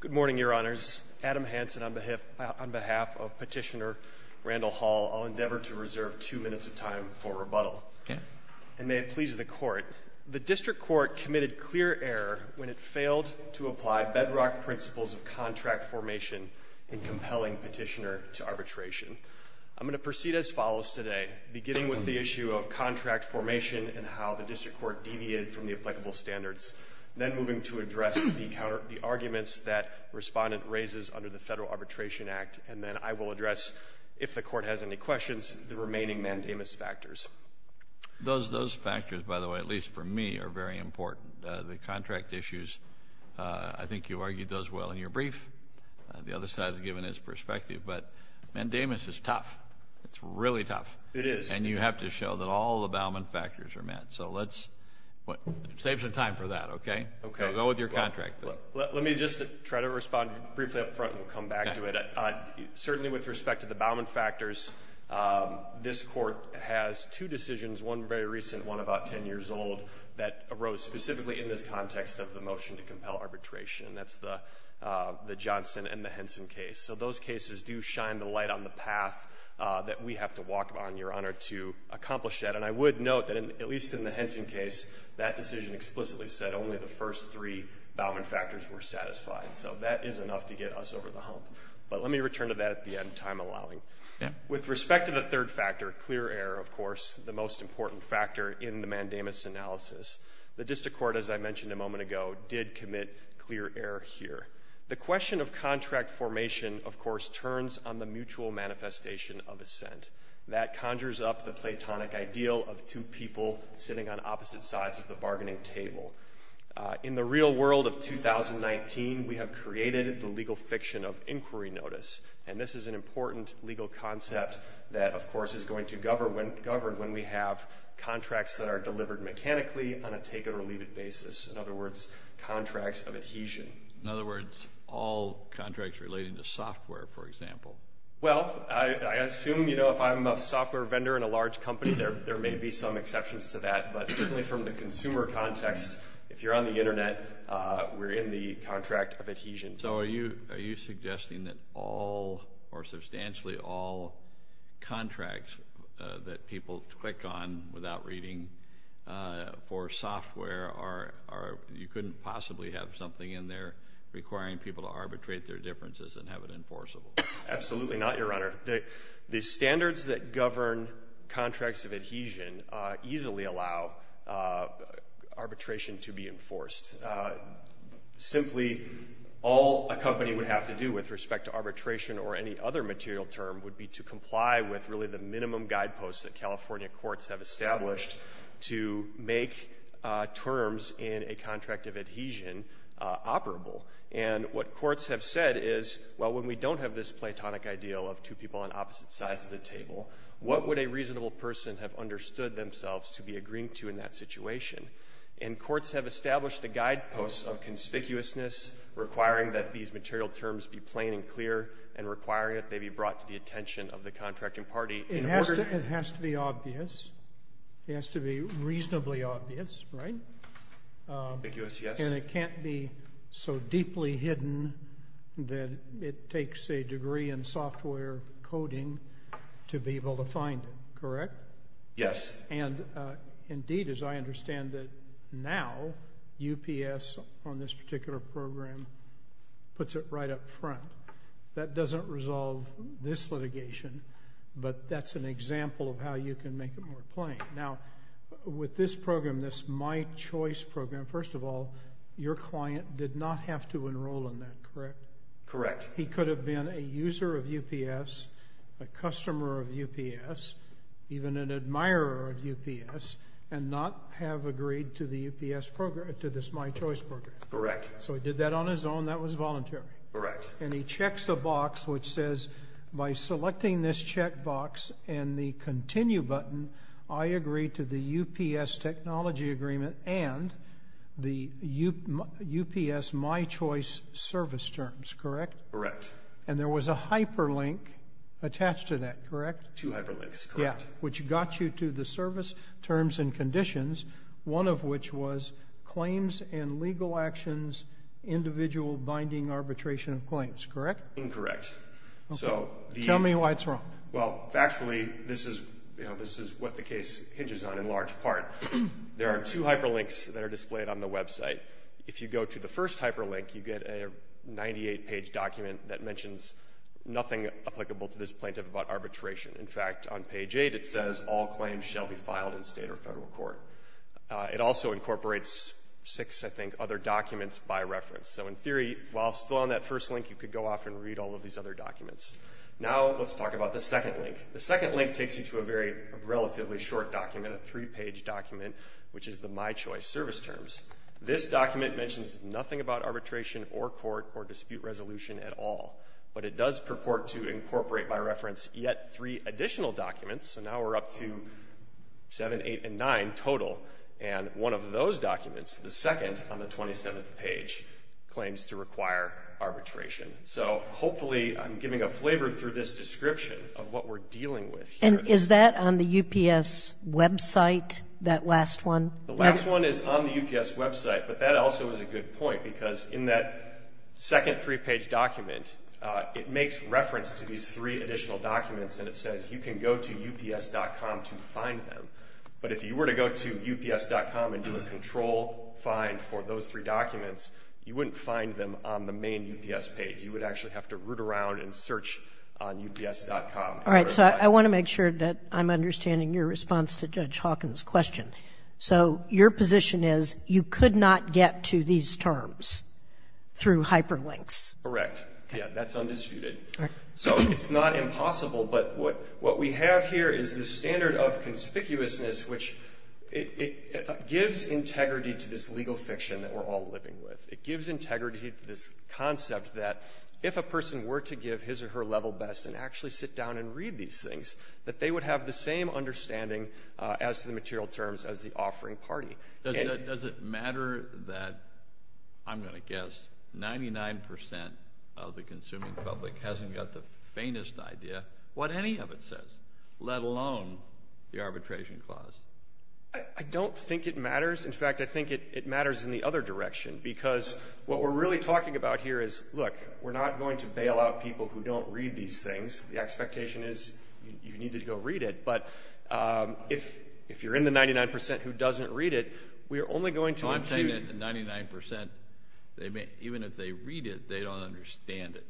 Good morning, Your Honors. Adam Hansen on behalf of Petitioner Randall Holl, I'll endeavor to reserve two minutes of time for rebuttal. And may it please the Court, the District Court committed clear error when it failed to apply bedrock principles of contract formation in compelling Petitioner to arbitration. I'm going to proceed as follows today, beginning with the issue of contract formation and how the District Court deviated from the applicable standards, then moving to address the arguments that Respondent raises under the Federal Arbitration Act. And then I will address, if the Court has any questions, the remaining mandamus factors. THE COURT Those factors, by the way, at least for me, are very important. The contract issues, I think you argued those well in your brief. The other side has given its perspective. But mandamus is tough. It's really tough. MR. HANSEN It is. THE COURT And you have to show that all the Bauman factors are met. So let's, it saves us a little bit of time for that, okay? THE COURT Go with your contract. MR. HANSEN Let me just try to respond briefly up front and we'll come back to it. Certainly with respect to the Bauman factors, this Court has two decisions, one very recent, one about 10 years old, that arose specifically in this context of the motion to compel arbitration. That's the Johnson and the Henson case. So those cases do shine the light on the path that we have to walk on, Your Honor, to accomplish that. And I would note that, at least in the case of Johnson, it explicitly said only the first three Bauman factors were satisfied. So that is enough to get us over the hump. But let me return to that at the end, time allowing. With respect to the third factor, clear error, of course, the most important factor in the mandamus analysis, the District Court, as I mentioned a moment ago, did commit clear error here. The question of contract formation, of course, turns on the mutual manifestation of assent. That conjures up the platonic ideal of two people sitting on opposite sides of the bargaining table. In the real world of 2019, we have created the legal fiction of inquiry notice. And this is an important legal concept that, of course, is going to govern when we have contracts that are delivered mechanically on a take-or-leave basis, in other words, contracts of adhesion. In other words, all contracts relating to software, for example. Well, I assume, you know, if I'm a software vendor in a large company, there may be some consumer context. If you're on the Internet, we're in the contract of adhesion. So are you suggesting that all, or substantially all, contracts that people click on without reading for software are, you couldn't possibly have something in there requiring people to arbitrate their differences and have it enforceable? Absolutely not, Your Honor. The standards that govern contracts of adhesion easily allow arbitration to be enforced. Simply, all a company would have to do with respect to arbitration or any other material term would be to comply with really the minimum guideposts that California courts have established to make terms in a contract of adhesion operable. And what courts have said is, well, when we don't have this platonic ideal of two people on opposite sides of the table, what would a reasonable person have understood themselves to be agreeing to in that situation? And courts have established the guideposts of conspicuousness, requiring that these material terms be plain and clear, and requiring that they be brought to the attention of the contracting party in order to... It has to be obvious. It has to be reasonably obvious, right? Conspicuous, yes. And it can't be so deeply hidden that it takes a degree in software coding to be able to find it, correct? Yes. And indeed, as I understand it now, UPS on this particular program puts it right up front. That doesn't resolve this litigation, but that's an example of how you can make it more plain. Now, with this program, this My Choice program, first of all, your client did not have to enroll in that, correct? Correct. He could have been a user of UPS, a customer of UPS, even an admirer of UPS, and not have agreed to the UPS program, to this My Choice program. Correct. So he did that on his own. That was voluntary. Correct. And he checks the box which says, by selecting this checkbox and the continue button, I agree to the UPS technology agreement and the UPS My Choice service terms, correct? Correct. And there was a hyperlink attached to that, correct? Two hyperlinks, correct. Yeah, which got you to the service terms and conditions, one of which was claims and legal actions, individual binding arbitration of claims, correct? Incorrect. Tell me why it's wrong. Well, factually, this is what the case hinges on in large part. There are two hyperlinks that are displayed on the website. If you go to the first hyperlink, you get a 98-page document that mentions nothing applicable to this plaintiff about arbitration. In fact, on page 8, it says all claims shall be filed in state or federal court. It also incorporates six, I think, other documents by reference. So in theory, while still on that first link, you could go off and read all of these other documents. Now let's talk about the second link. The second link takes you to a very relatively short document, a three-page document, which is the My Choice service terms. This document mentions nothing about arbitration or court or dispute resolution at all. But it does purport to incorporate by reference yet three additional documents. So now we're up to 7, 8, and 9 total. And one of those documents, the second on the 27th page, claims to require arbitration. So hopefully I'm giving a flavor through this description of what we're dealing with here. Is that on the UPS website, that last one? The last one is on the UPS website. But that also is a good point, because in that second three-page document, it makes reference to these three additional documents, and it says you can go to ups.com to find them. But if you were to go to ups.com and do a control find for those three documents, you wouldn't find them on the main UPS page. You would actually have to root around and search on ups.com. All right. So I want to make sure that I'm understanding your response to Judge Hawkins' question. So your position is you could not get to these terms through hyperlinks. Correct. Okay. Yeah. That's undisputed. All right. So it's not impossible, but what we have here is the standard of conspicuousness, which it gives integrity to this legal fiction that we're all living with. It gives integrity to this concept that if a person were to give his or her level best and actually sit down and read these things, that they would have the same understanding as the material terms as the offering party. Does it matter that, I'm going to guess, 99 percent of the consuming public hasn't got the faintest idea what any of it says, let alone the arbitration clause? I don't think it matters. In fact, I think it matters in the other direction, because what we're really talking about here is, look, we're not going to bail out people who don't read these things. The expectation is you need to go read it. But if you're in the 99 percent who doesn't read it, we're only going to impugn- I'm saying that 99 percent, even if they read it, they don't understand it.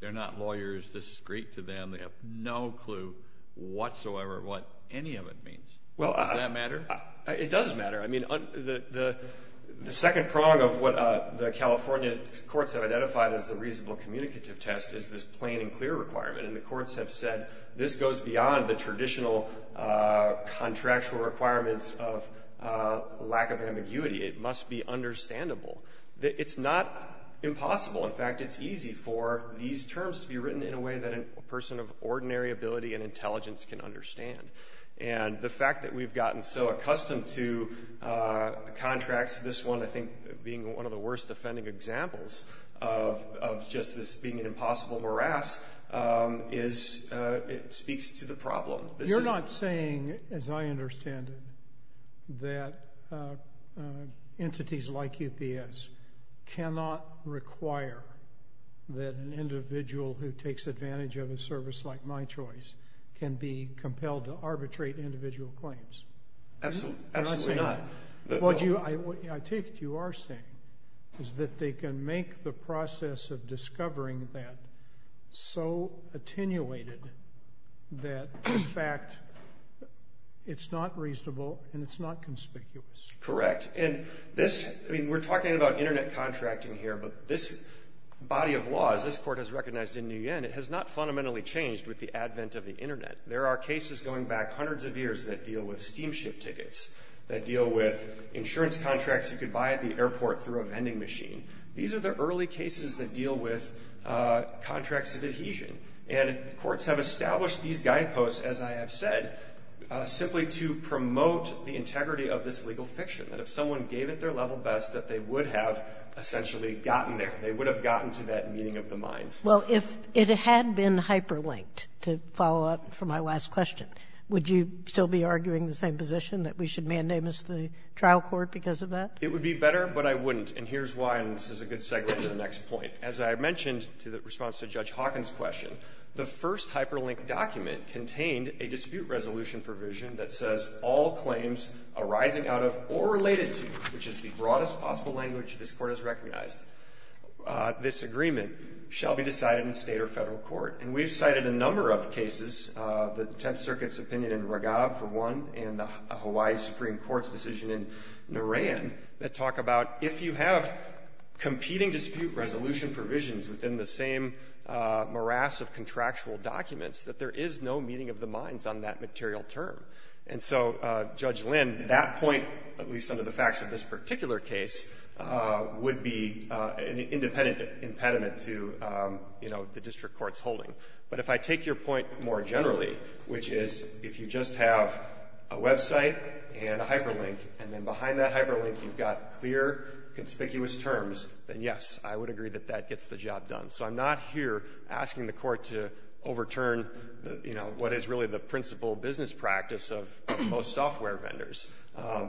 They're not lawyers. This is great to them. They have no clue whatsoever what any of it means. Does that matter? It does matter. I mean, the second prong of what the California courts have identified as the reasonable communicative test is this plain and clear requirement. And the courts have said this goes beyond the traditional contractual requirements of lack of ambiguity. It must be understandable. It's not impossible. In fact, it's easy for these terms to be written in a way that a person of ordinary ability and intelligence can understand. And the fact that we've gotten so accustomed to contracts, this one, I think, being one of the worst offending examples of just this being an impossible morass speaks to the problem. You're not saying, as I understand it, that entities like UPS cannot require that an individual who takes advantage of a service like MyChoice can be compelled to arbitrate individual claims? Absolutely. Absolutely not. What I take it you are saying is that they can make the process of discovering that so attenuated that, in fact, it's not reasonable and it's not conspicuous. Correct. And this, I mean, we're talking about Internet contracting here, but this body of law, as this Court has recognized in the U.N., it has not fundamentally changed with the of the steamship tickets that deal with insurance contracts you could buy at the airport through a vending machine. These are the early cases that deal with contracts of adhesion. And courts have established these guideposts, as I have said, simply to promote the integrity of this legal fiction, that if someone gave it their level best that they would have essentially gotten there, they would have gotten to that meeting of the minds. Well, if it had been hyperlinked, to follow up for my last question, would you still be arguing the same position, that we should mandamus the trial court because of that? It would be better, but I wouldn't. And here's why, and this is a good segue to the next point. As I mentioned to the response to Judge Hawkins' question, the first hyperlinked document contained a dispute resolution provision that says all claims arising out of or related to, which is the broadest possible language this Court has recognized this agreement, shall be decided in State or Federal court. And we've cited a number of cases, the Tenth Circuit's opinion in Raghab, for one, and the Hawaii Supreme Court's decision in Narayan, that talk about if you have competing dispute resolution provisions within the same morass of contractual documents, that there is no meeting of the minds on that material term. And so, Judge Lynn, that point, at least under the facts of this particular case, would be an independent impediment to, you know, the district court's holding. But if I take your point more generally, which is, if you just have a website and a hyperlink, and then behind that hyperlink you've got clear, conspicuous terms, then, yes, I would agree that that gets the job done. So I'm not here asking the Court to overturn, you know, what is really the principal business practice of most software vendors.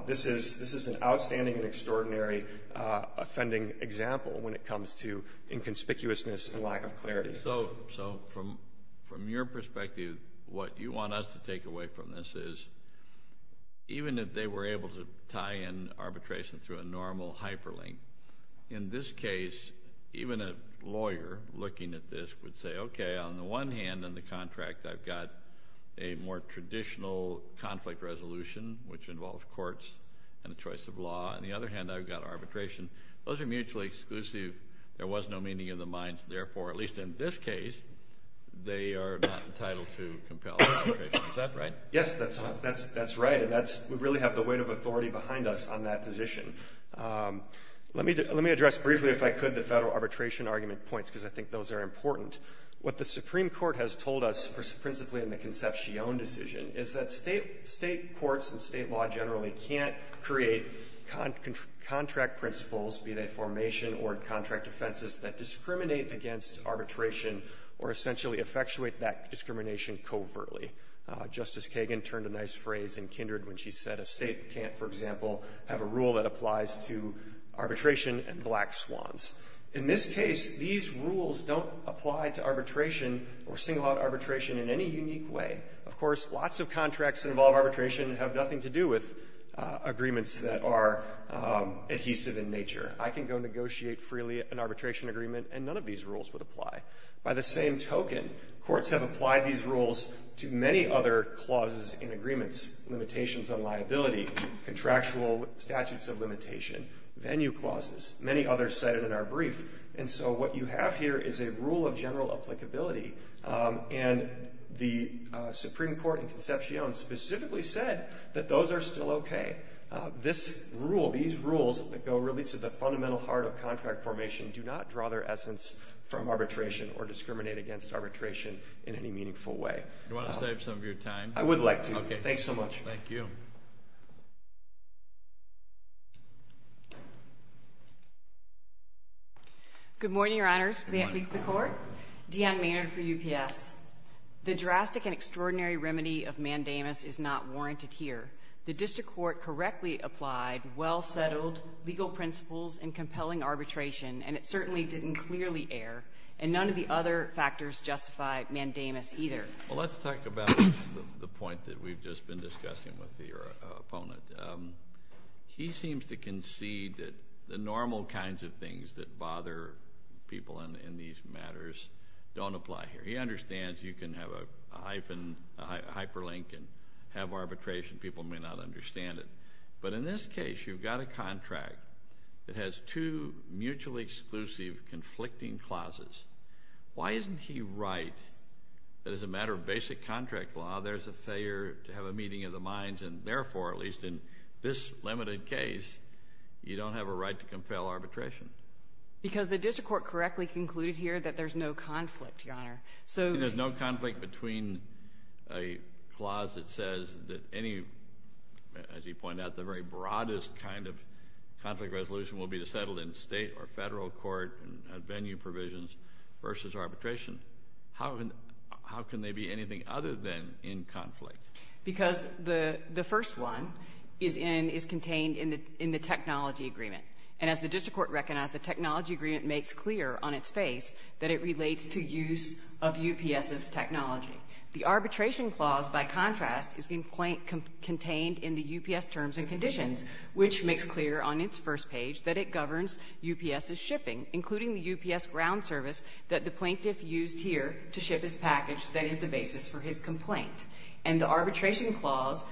This is an outstanding and extraordinary offending example when it comes to inconspicuousness and lack of clarity. So, from your perspective, what you want us to take away from this is, even if they were able to tie in arbitration through a normal hyperlink, in this case, even a lawyer looking at this would say, okay, on the one hand, in the contract, I've got a more traditional conflict resolution, which involves courts and a choice of law. On the other hand, I've got arbitration. Those are mutually exclusive. There was no meeting of the minds. Therefore, at least in this case, they are not entitled to compel arbitration. Is that right? Yes, that's right. And we really have the weight of authority behind us on that position. Let me address briefly, if I could, the federal arbitration argument points, because I think those are important. What the Supreme Court has told us, principally in the Concepcion decision, is that state courts and state law generally can't create contract principles, be they formation or contract offenses, that discriminate against arbitration or essentially effectuate that discrimination covertly. Justice Kagan turned a nice phrase in Kindred when she said a state can't, for example, have a rule that applies to arbitration and black swans. In this case, these rules don't apply to arbitration or single out arbitration in any unique way. Of course, lots of contracts that involve arbitration have nothing to do with agreements that are adhesive in nature. I can go negotiate freely an arbitration agreement and none of these rules would apply. By the same token, courts have applied these rules to many other clauses in agreements, limitations on liability, contractual statutes of limitation, venue clauses, many others cited in our brief. And so what you have here is a rule of general applicability. And the Supreme Court in Concepcion specifically said that those are still okay. This rule, these rules that go really to the fundamental heart of contract formation do not draw their essence from arbitration or discriminate against arbitration in any meaningful way. Do you want to save some of your time? I would like to. Thanks so much. Thank you. Good morning, Your Honors. May it please the Court? Dion Maynard for UPS. The drastic and extraordinary remedy of mandamus is not warranted here. The district court correctly applied well-settled legal principles and compelling arbitration, and it certainly didn't clearly err. And none of the other factors justify mandamus either. Well, let's talk about the point that we've just been discussing with your opponent. He seems to concede that the normal kinds of things that bother people in these matters don't apply here. He understands you can have a hyphen, a hyperlink, and have arbitration. People may not understand it. But in this case, you've got a contract that has two mutually exclusive conflicting clauses. Why isn't he right that as a matter of basic contract law, there's a failure to have a meeting of the minds, and therefore, at least in this limited case, you don't have a right to compel arbitration? Because the district court correctly concluded here that there's no conflict, Your Honor. So there's no conflict between a clause that says that any, as you point out, the very broadest kind of conflict resolution will be to settle in state or federal court and venue provisions versus arbitration. How can they be anything other than in conflict? Because the first one is contained in the technology agreement. And as the technology agreement makes clear on its face, that it relates to use of UPS's technology. The arbitration clause, by contrast, is contained in the UPS terms and conditions, which makes clear on its first page that it governs UPS's shipping, including the UPS ground service that the plaintiff used here to ship his package that is the basis for his complaint. And the arbitration clause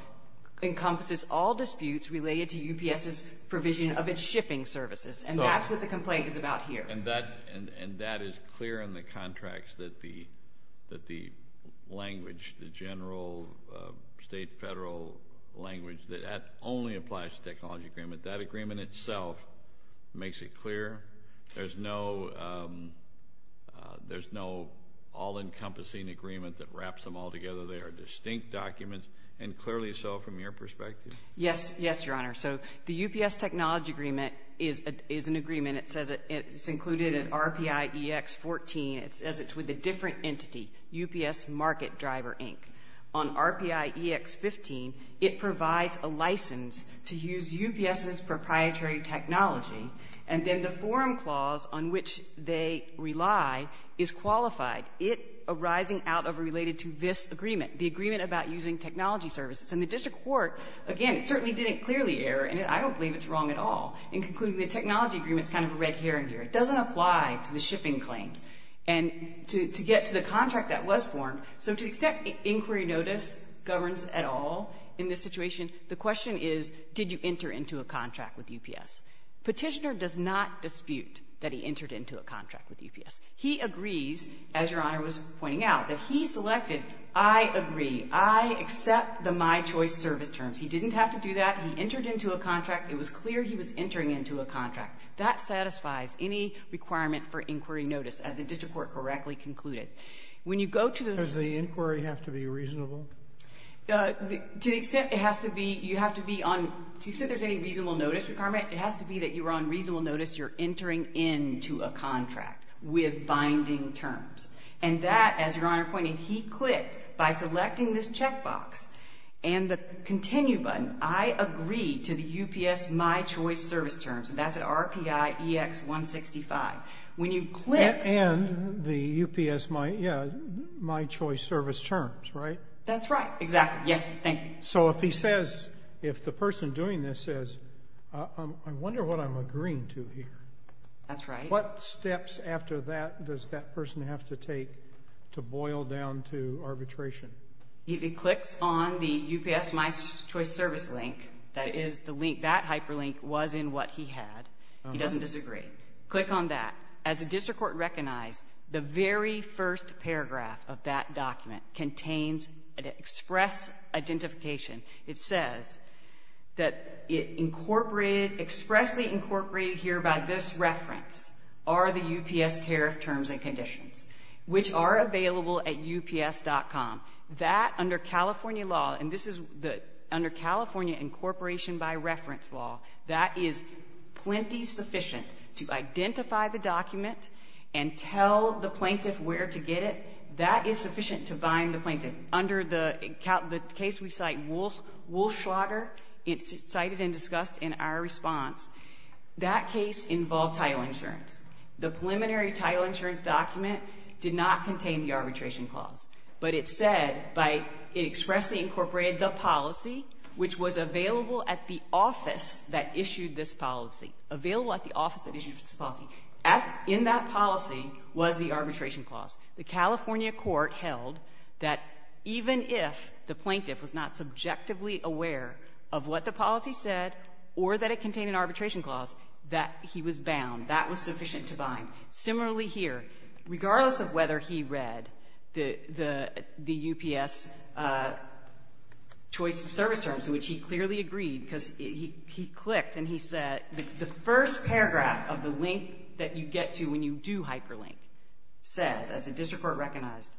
encompasses all disputes related to UPS's provision of its shipping services. And that's what the complaint is about here. And that is clear in the contracts that the language, the general state, federal language that only applies to technology agreement, that agreement itself makes it clear. There's no all-encompassing agreement that wraps them all together. They are distinct documents. And clearly so from your perspective? Yes. Yes, Your Honor. So the UPS technology agreement is an agreement. It says it's included in RPI EX-14. It says it's with a different entity, UPS Market Driver, Inc. On RPI EX-15, it provides a license to use UPS's proprietary technology. And then the forum clause on which they rely is qualified. It arising out of or related to this agreement, the agreement about using technology services. And the district court, again, it certainly didn't clearly err, and I don't believe it's wrong at all in concluding the technology agreement's kind of a red herring here. It doesn't apply to the shipping claims. And to get to the contract that was formed, so to the extent inquiry notice governs at all in this situation, the question is, did you enter into a contract with UPS? Petitioner does not dispute that he entered into a contract with UPS. He agrees, as Your Honor was pointing out, that he selected, I agree, I accept the my choice service terms. He didn't have to do that. He entered into a contract. It was clear he was entering into a contract. That satisfies any requirement for inquiry notice, as the district court correctly concluded. When you go to the ---- Sotomayor, does the inquiry have to be reasonable? To the extent it has to be, you have to be on, to the extent there's any reasonable notice requirement, it has to be that you're on reasonable notice. You're entering into a contract with binding terms. And that, as Your Honor pointed, he clicked by selecting this check box and the continue button, I agree to the UPS my choice service terms. And that's at RPIEX165. When you click ---- And the UPS my, yeah, my choice service terms, right? That's right. Exactly. Yes. Thank you. So if he says, if the person doing this says, I wonder what I'm agreeing to here. That's right. What steps after that does that person have to take to boil down to arbitration? If he clicks on the UPS my choice service link, that is the link, that hyperlink was in what he had, he doesn't disagree. Click on that. As the district court recognized, the very first paragraph of that document contains an express identification. It says that it incorporated, expressly incorporated here by this reference are the UPS tariff terms and conditions, which are available at UPS.com. That, under California law, and this is the, under California incorporation by reference law, that is plenty sufficient to identify the document and tell the plaintiff where to get it, that is sufficient to bind the plaintiff. Under the case we cite, Wulschlager, it's cited and discussed in our response, that case involved title insurance. The preliminary title insurance document did not contain the arbitration clause, but it said by it expressly incorporated the policy which was available at the office that issued this policy, available at the office that issued this policy. In that policy was the arbitration clause. The California court held that even if the plaintiff was not subjectively aware of what the policy said or that it contained an arbitration clause, that he was bound. That was sufficient to bind. Similarly here, regardless of whether he read the UPS choice of service terms, which he clearly agreed, because he clicked and he said the first paragraph of the link that you get to when you do hyperlink says, as the district court recognized,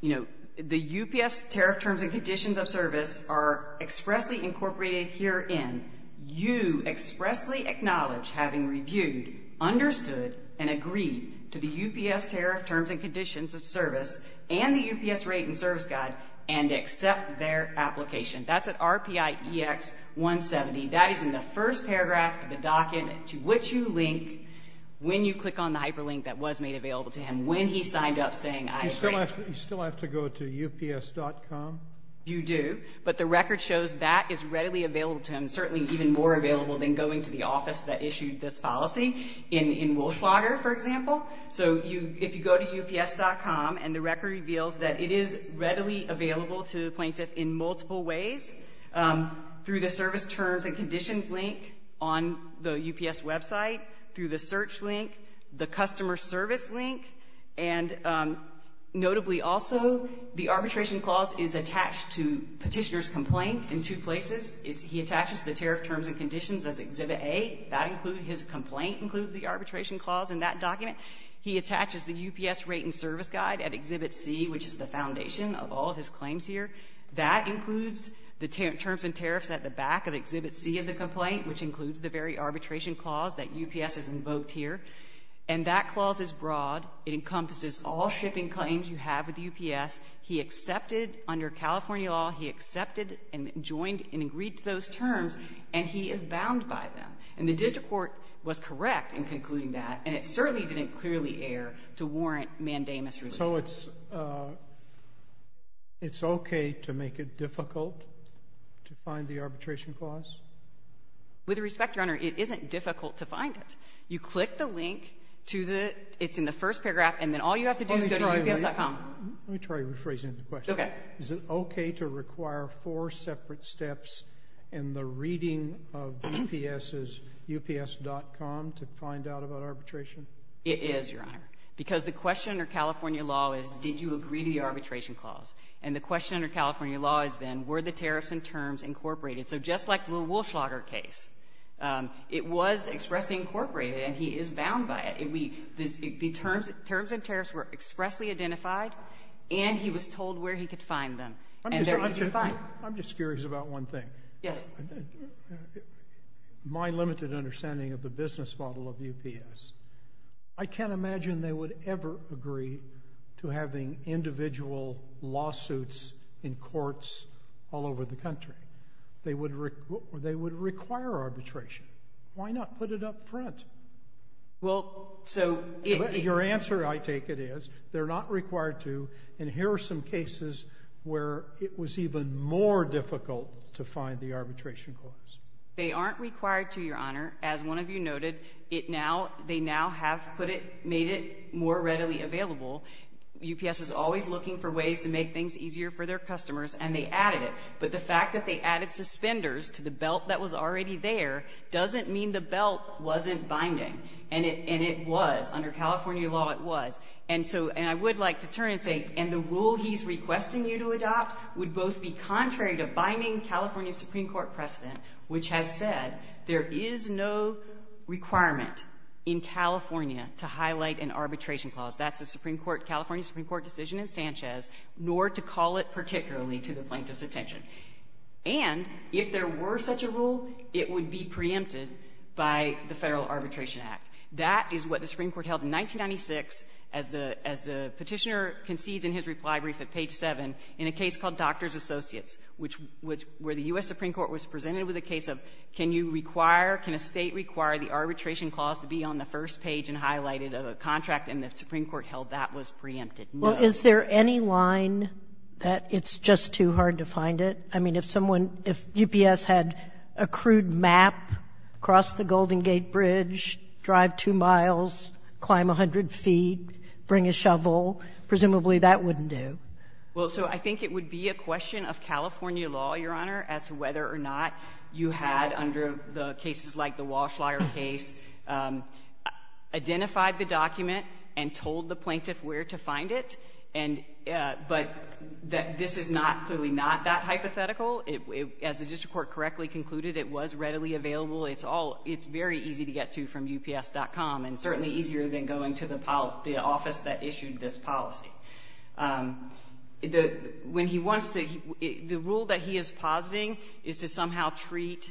you know, the UPS tariff terms and conditions of service are expressly incorporated herein. You expressly acknowledge having reviewed, understood, and agreed to the UPS tariff terms and conditions of service and the UPS rate and service guide and accept their application. That's at RPIEX 170. That is in the first paragraph of the docket to which you link when you click on the hyperlink that was made available to him, when he signed up saying, I agree. You still have to go to UPS.com? You do. But the record shows that is readily available to him, certainly even more available than going to the office that issued this policy in Welschlager, for example. So you go to UPS.com and the record reveals that it is readily available to the UPS website, through the search link, the customer service link, and notably also, the arbitration clause is attached to petitioner's complaint in two places. He attaches the tariff terms and conditions as Exhibit A. That includes his complaint, includes the arbitration clause in that document. He attaches the UPS rate and service guide at Exhibit C, which is the foundation of all of his claims here. That includes the terms and tariffs at the back of Exhibit C of the complaint, which includes the very arbitration clause that UPS has invoked here. And that clause is broad. It encompasses all shipping claims you have with UPS. He accepted under California law, he accepted and joined and agreed to those terms, and he is bound by them. And the district court was correct in concluding that. And it certainly didn't clearly err to warrant mandamus relief. So it's okay to make it difficult to find the arbitration clause? With respect, Your Honor, it isn't difficult to find it. You click the link to the, it's in the first paragraph, and then all you have to do is go to UPS.com. Let me try rephrasing the question. Okay. Is it okay to require four separate steps in the reading of UPS's UPS.com to find out about arbitration? It is, Your Honor. Because the question under California law is, did you agree to the arbitration clause? And the question under California law is then, were the tariffs and terms incorporated? So just like the little woolschlager case, it was expressly incorporated and he is bound by it. The terms and tariffs were expressly identified, and he was told where he could find them. And there he could find. I'm just curious about one thing. Yes. My limited understanding of the business model of UPS. I can't imagine they would ever agree to having individual lawsuits in courts all over the country. They would require arbitration. Why not put it up front? Well, so. Your answer, I take it, is they're not required to. And here are some cases where it was even more difficult to find the arbitration clause. They aren't required to, Your Honor. As one of you noted, it now, they now have put it, made it more readily available. UPS is always looking for ways to make things easier for their customers, and they added it. But the fact that they added suspenders to the belt that was already there doesn't mean the belt wasn't binding. And it was. Under California law, it was. And so, and I would like to turn and say, and the rule he's requesting you to adopt would both be contrary to binding California Supreme Court precedent, which has said there is no requirement in California to highlight an arbitration clause. That's a Supreme Court, California Supreme Court decision in Sanchez, nor to call it particularly to the plaintiff's attention. And if there were such a rule, it would be preempted by the Federal Arbitration Act. That is what the Supreme Court held in 1996 as the Petitioner concedes in his reply brief at page 7 in a case called Doctors Associates, which was where the U.S. Supreme Court was presented with a case of, can you require, can a State require the arbitration clause to be on the first page and highlighted a contract, and the Supreme Court held that was preempted. No. Sotomayor, is there any line that it's just too hard to find it? I mean, if someone, if UPS had a crude map, cross the Golden Gate Bridge, drive 2 miles, climb 100 feet, bring a shovel, presumably that wouldn't do. Well, so I think it would be a question of California law, Your Honor, as to whether or not you had, under the cases like the Walsh-Lyer case, identified the document and told the plaintiff where to find it. And but this is not, clearly not, that hypothetical. As the district court correctly concluded, it was readily available. It's all, it's very easy to get to from UPS.com, and certainly easier than going to the office that issued this policy. The, when he wants to, the rule that he is positing is to somehow treat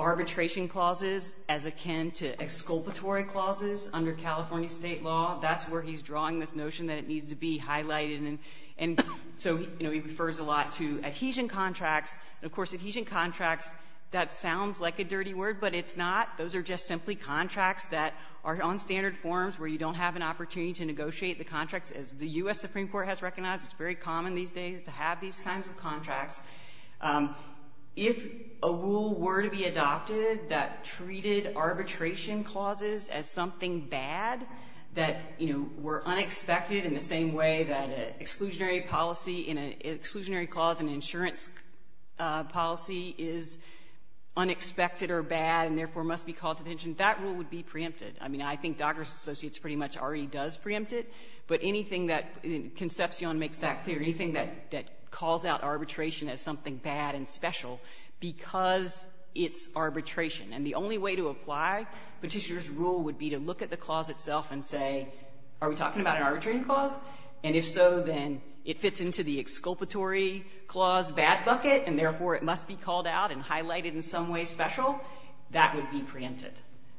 arbitration clauses as akin to exculpatory clauses under California State law. That's where he's drawing this notion that it needs to be highlighted. And so, you know, he refers a lot to adhesion contracts. And, of course, adhesion contracts, that sounds like a dirty word, but it's not. Those are just simply contracts that are on standard forms where you don't have an obligation to negotiate the contracts. As the U.S. Supreme Court has recognized, it's very common these days to have these kinds of contracts. If a rule were to be adopted that treated arbitration clauses as something bad, that, you know, were unexpected in the same way that an exclusionary policy, an exclusionary clause in an insurance policy is unexpected or bad and, therefore, must be called to attention, that rule would be preempted. I mean, I think Dockers Associates pretty much already does preempt it, but anything that Concepcion makes that clear, anything that calls out arbitration as something bad and special, because it's arbitration, and the only way to apply Petitior's rule would be to look at the clause itself and say, are we talking about an arbitrating clause? And if so, then it fits into the exculpatory clause bad bucket, and, therefore, it must be called out and highlighted in some way special, that would be preempted.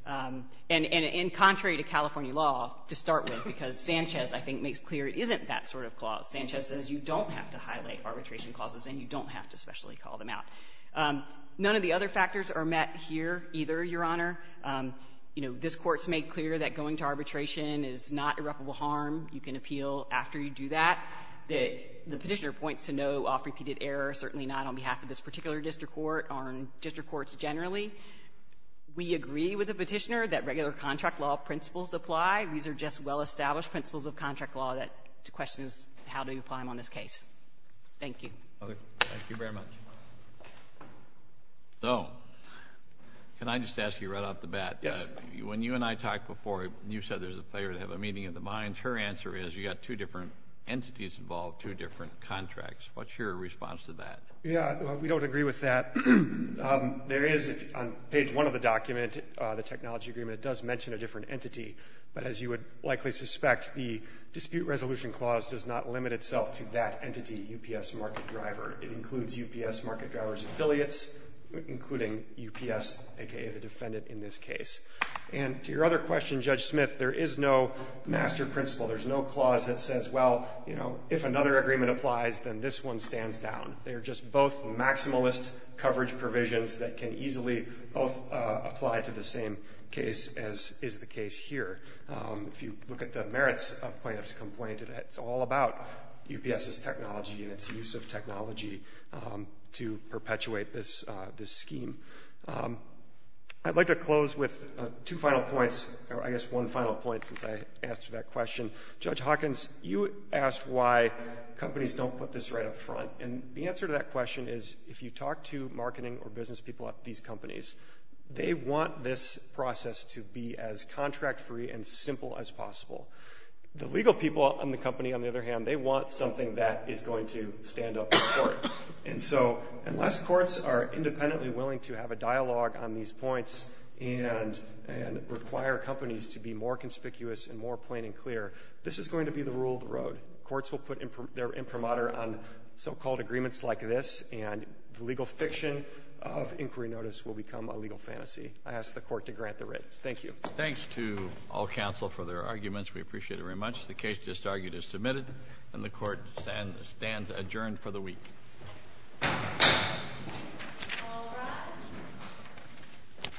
And contrary to California law, to start with, because Sanchez, I think, makes clear it isn't that sort of clause. Sanchez says you don't have to highlight arbitration clauses and you don't have to specially call them out. None of the other factors are met here either, Your Honor. You know, this Court's made clear that going to arbitration is not irreparable harm. You can appeal after you do that. The Petitior points to no off-repeated error, certainly not on behalf of this particular district court or district courts generally. We agree with the Petitior that regular contract law principles apply. These are just well-established principles of contract law that the question is how do you apply them on this case. Thank you. Roberts. Thank you very much. So can I just ask you right off the bat? Yes. When you and I talked before, you said there's a failure to have a meeting of the minds. Her answer is you've got two different entities involved, two different contracts. What's your response to that? Yeah. We don't agree with that. There is, on page 1 of the document, the technology agreement, it does mention a different entity. But as you would likely suspect, the dispute resolution clause does not limit itself to that entity, UPS Market Driver. It includes UPS Market Driver's affiliates, including UPS, a.k.a. the defendant in this case. And to your other question, Judge Smith, there is no master principle. There's no clause that says, well, you know, if another agreement applies, then this one stands down. They're just both maximalist coverage provisions that can easily both apply to the same case as is the case here. If you look at the merits of plaintiff's complaint, it's all about UPS's technology and its use of technology to perpetuate this scheme. I'd like to close with two final points, or I guess one final point, since I asked that question. Judge Hawkins, you asked why companies don't put this right up front. And the answer to that question is if you talk to marketing or business people at these companies, they want this process to be as contract-free and simple as possible. The legal people in the company, on the other hand, they want something that is going to stand up in court. And so, unless courts are independently willing to have a dialogue on these points and require companies to be more conspicuous and more plain and clear, this is going to be the rule of the road. Courts will put their imprimatur on so-called agreements like this, and the legal fiction of inquiry notice will become a legal fantasy. I ask the court to grant the writ. Thank you. Thanks to all counsel for their arguments. We appreciate it very much. The case just argued is submitted, and the court stands adjourned for the week.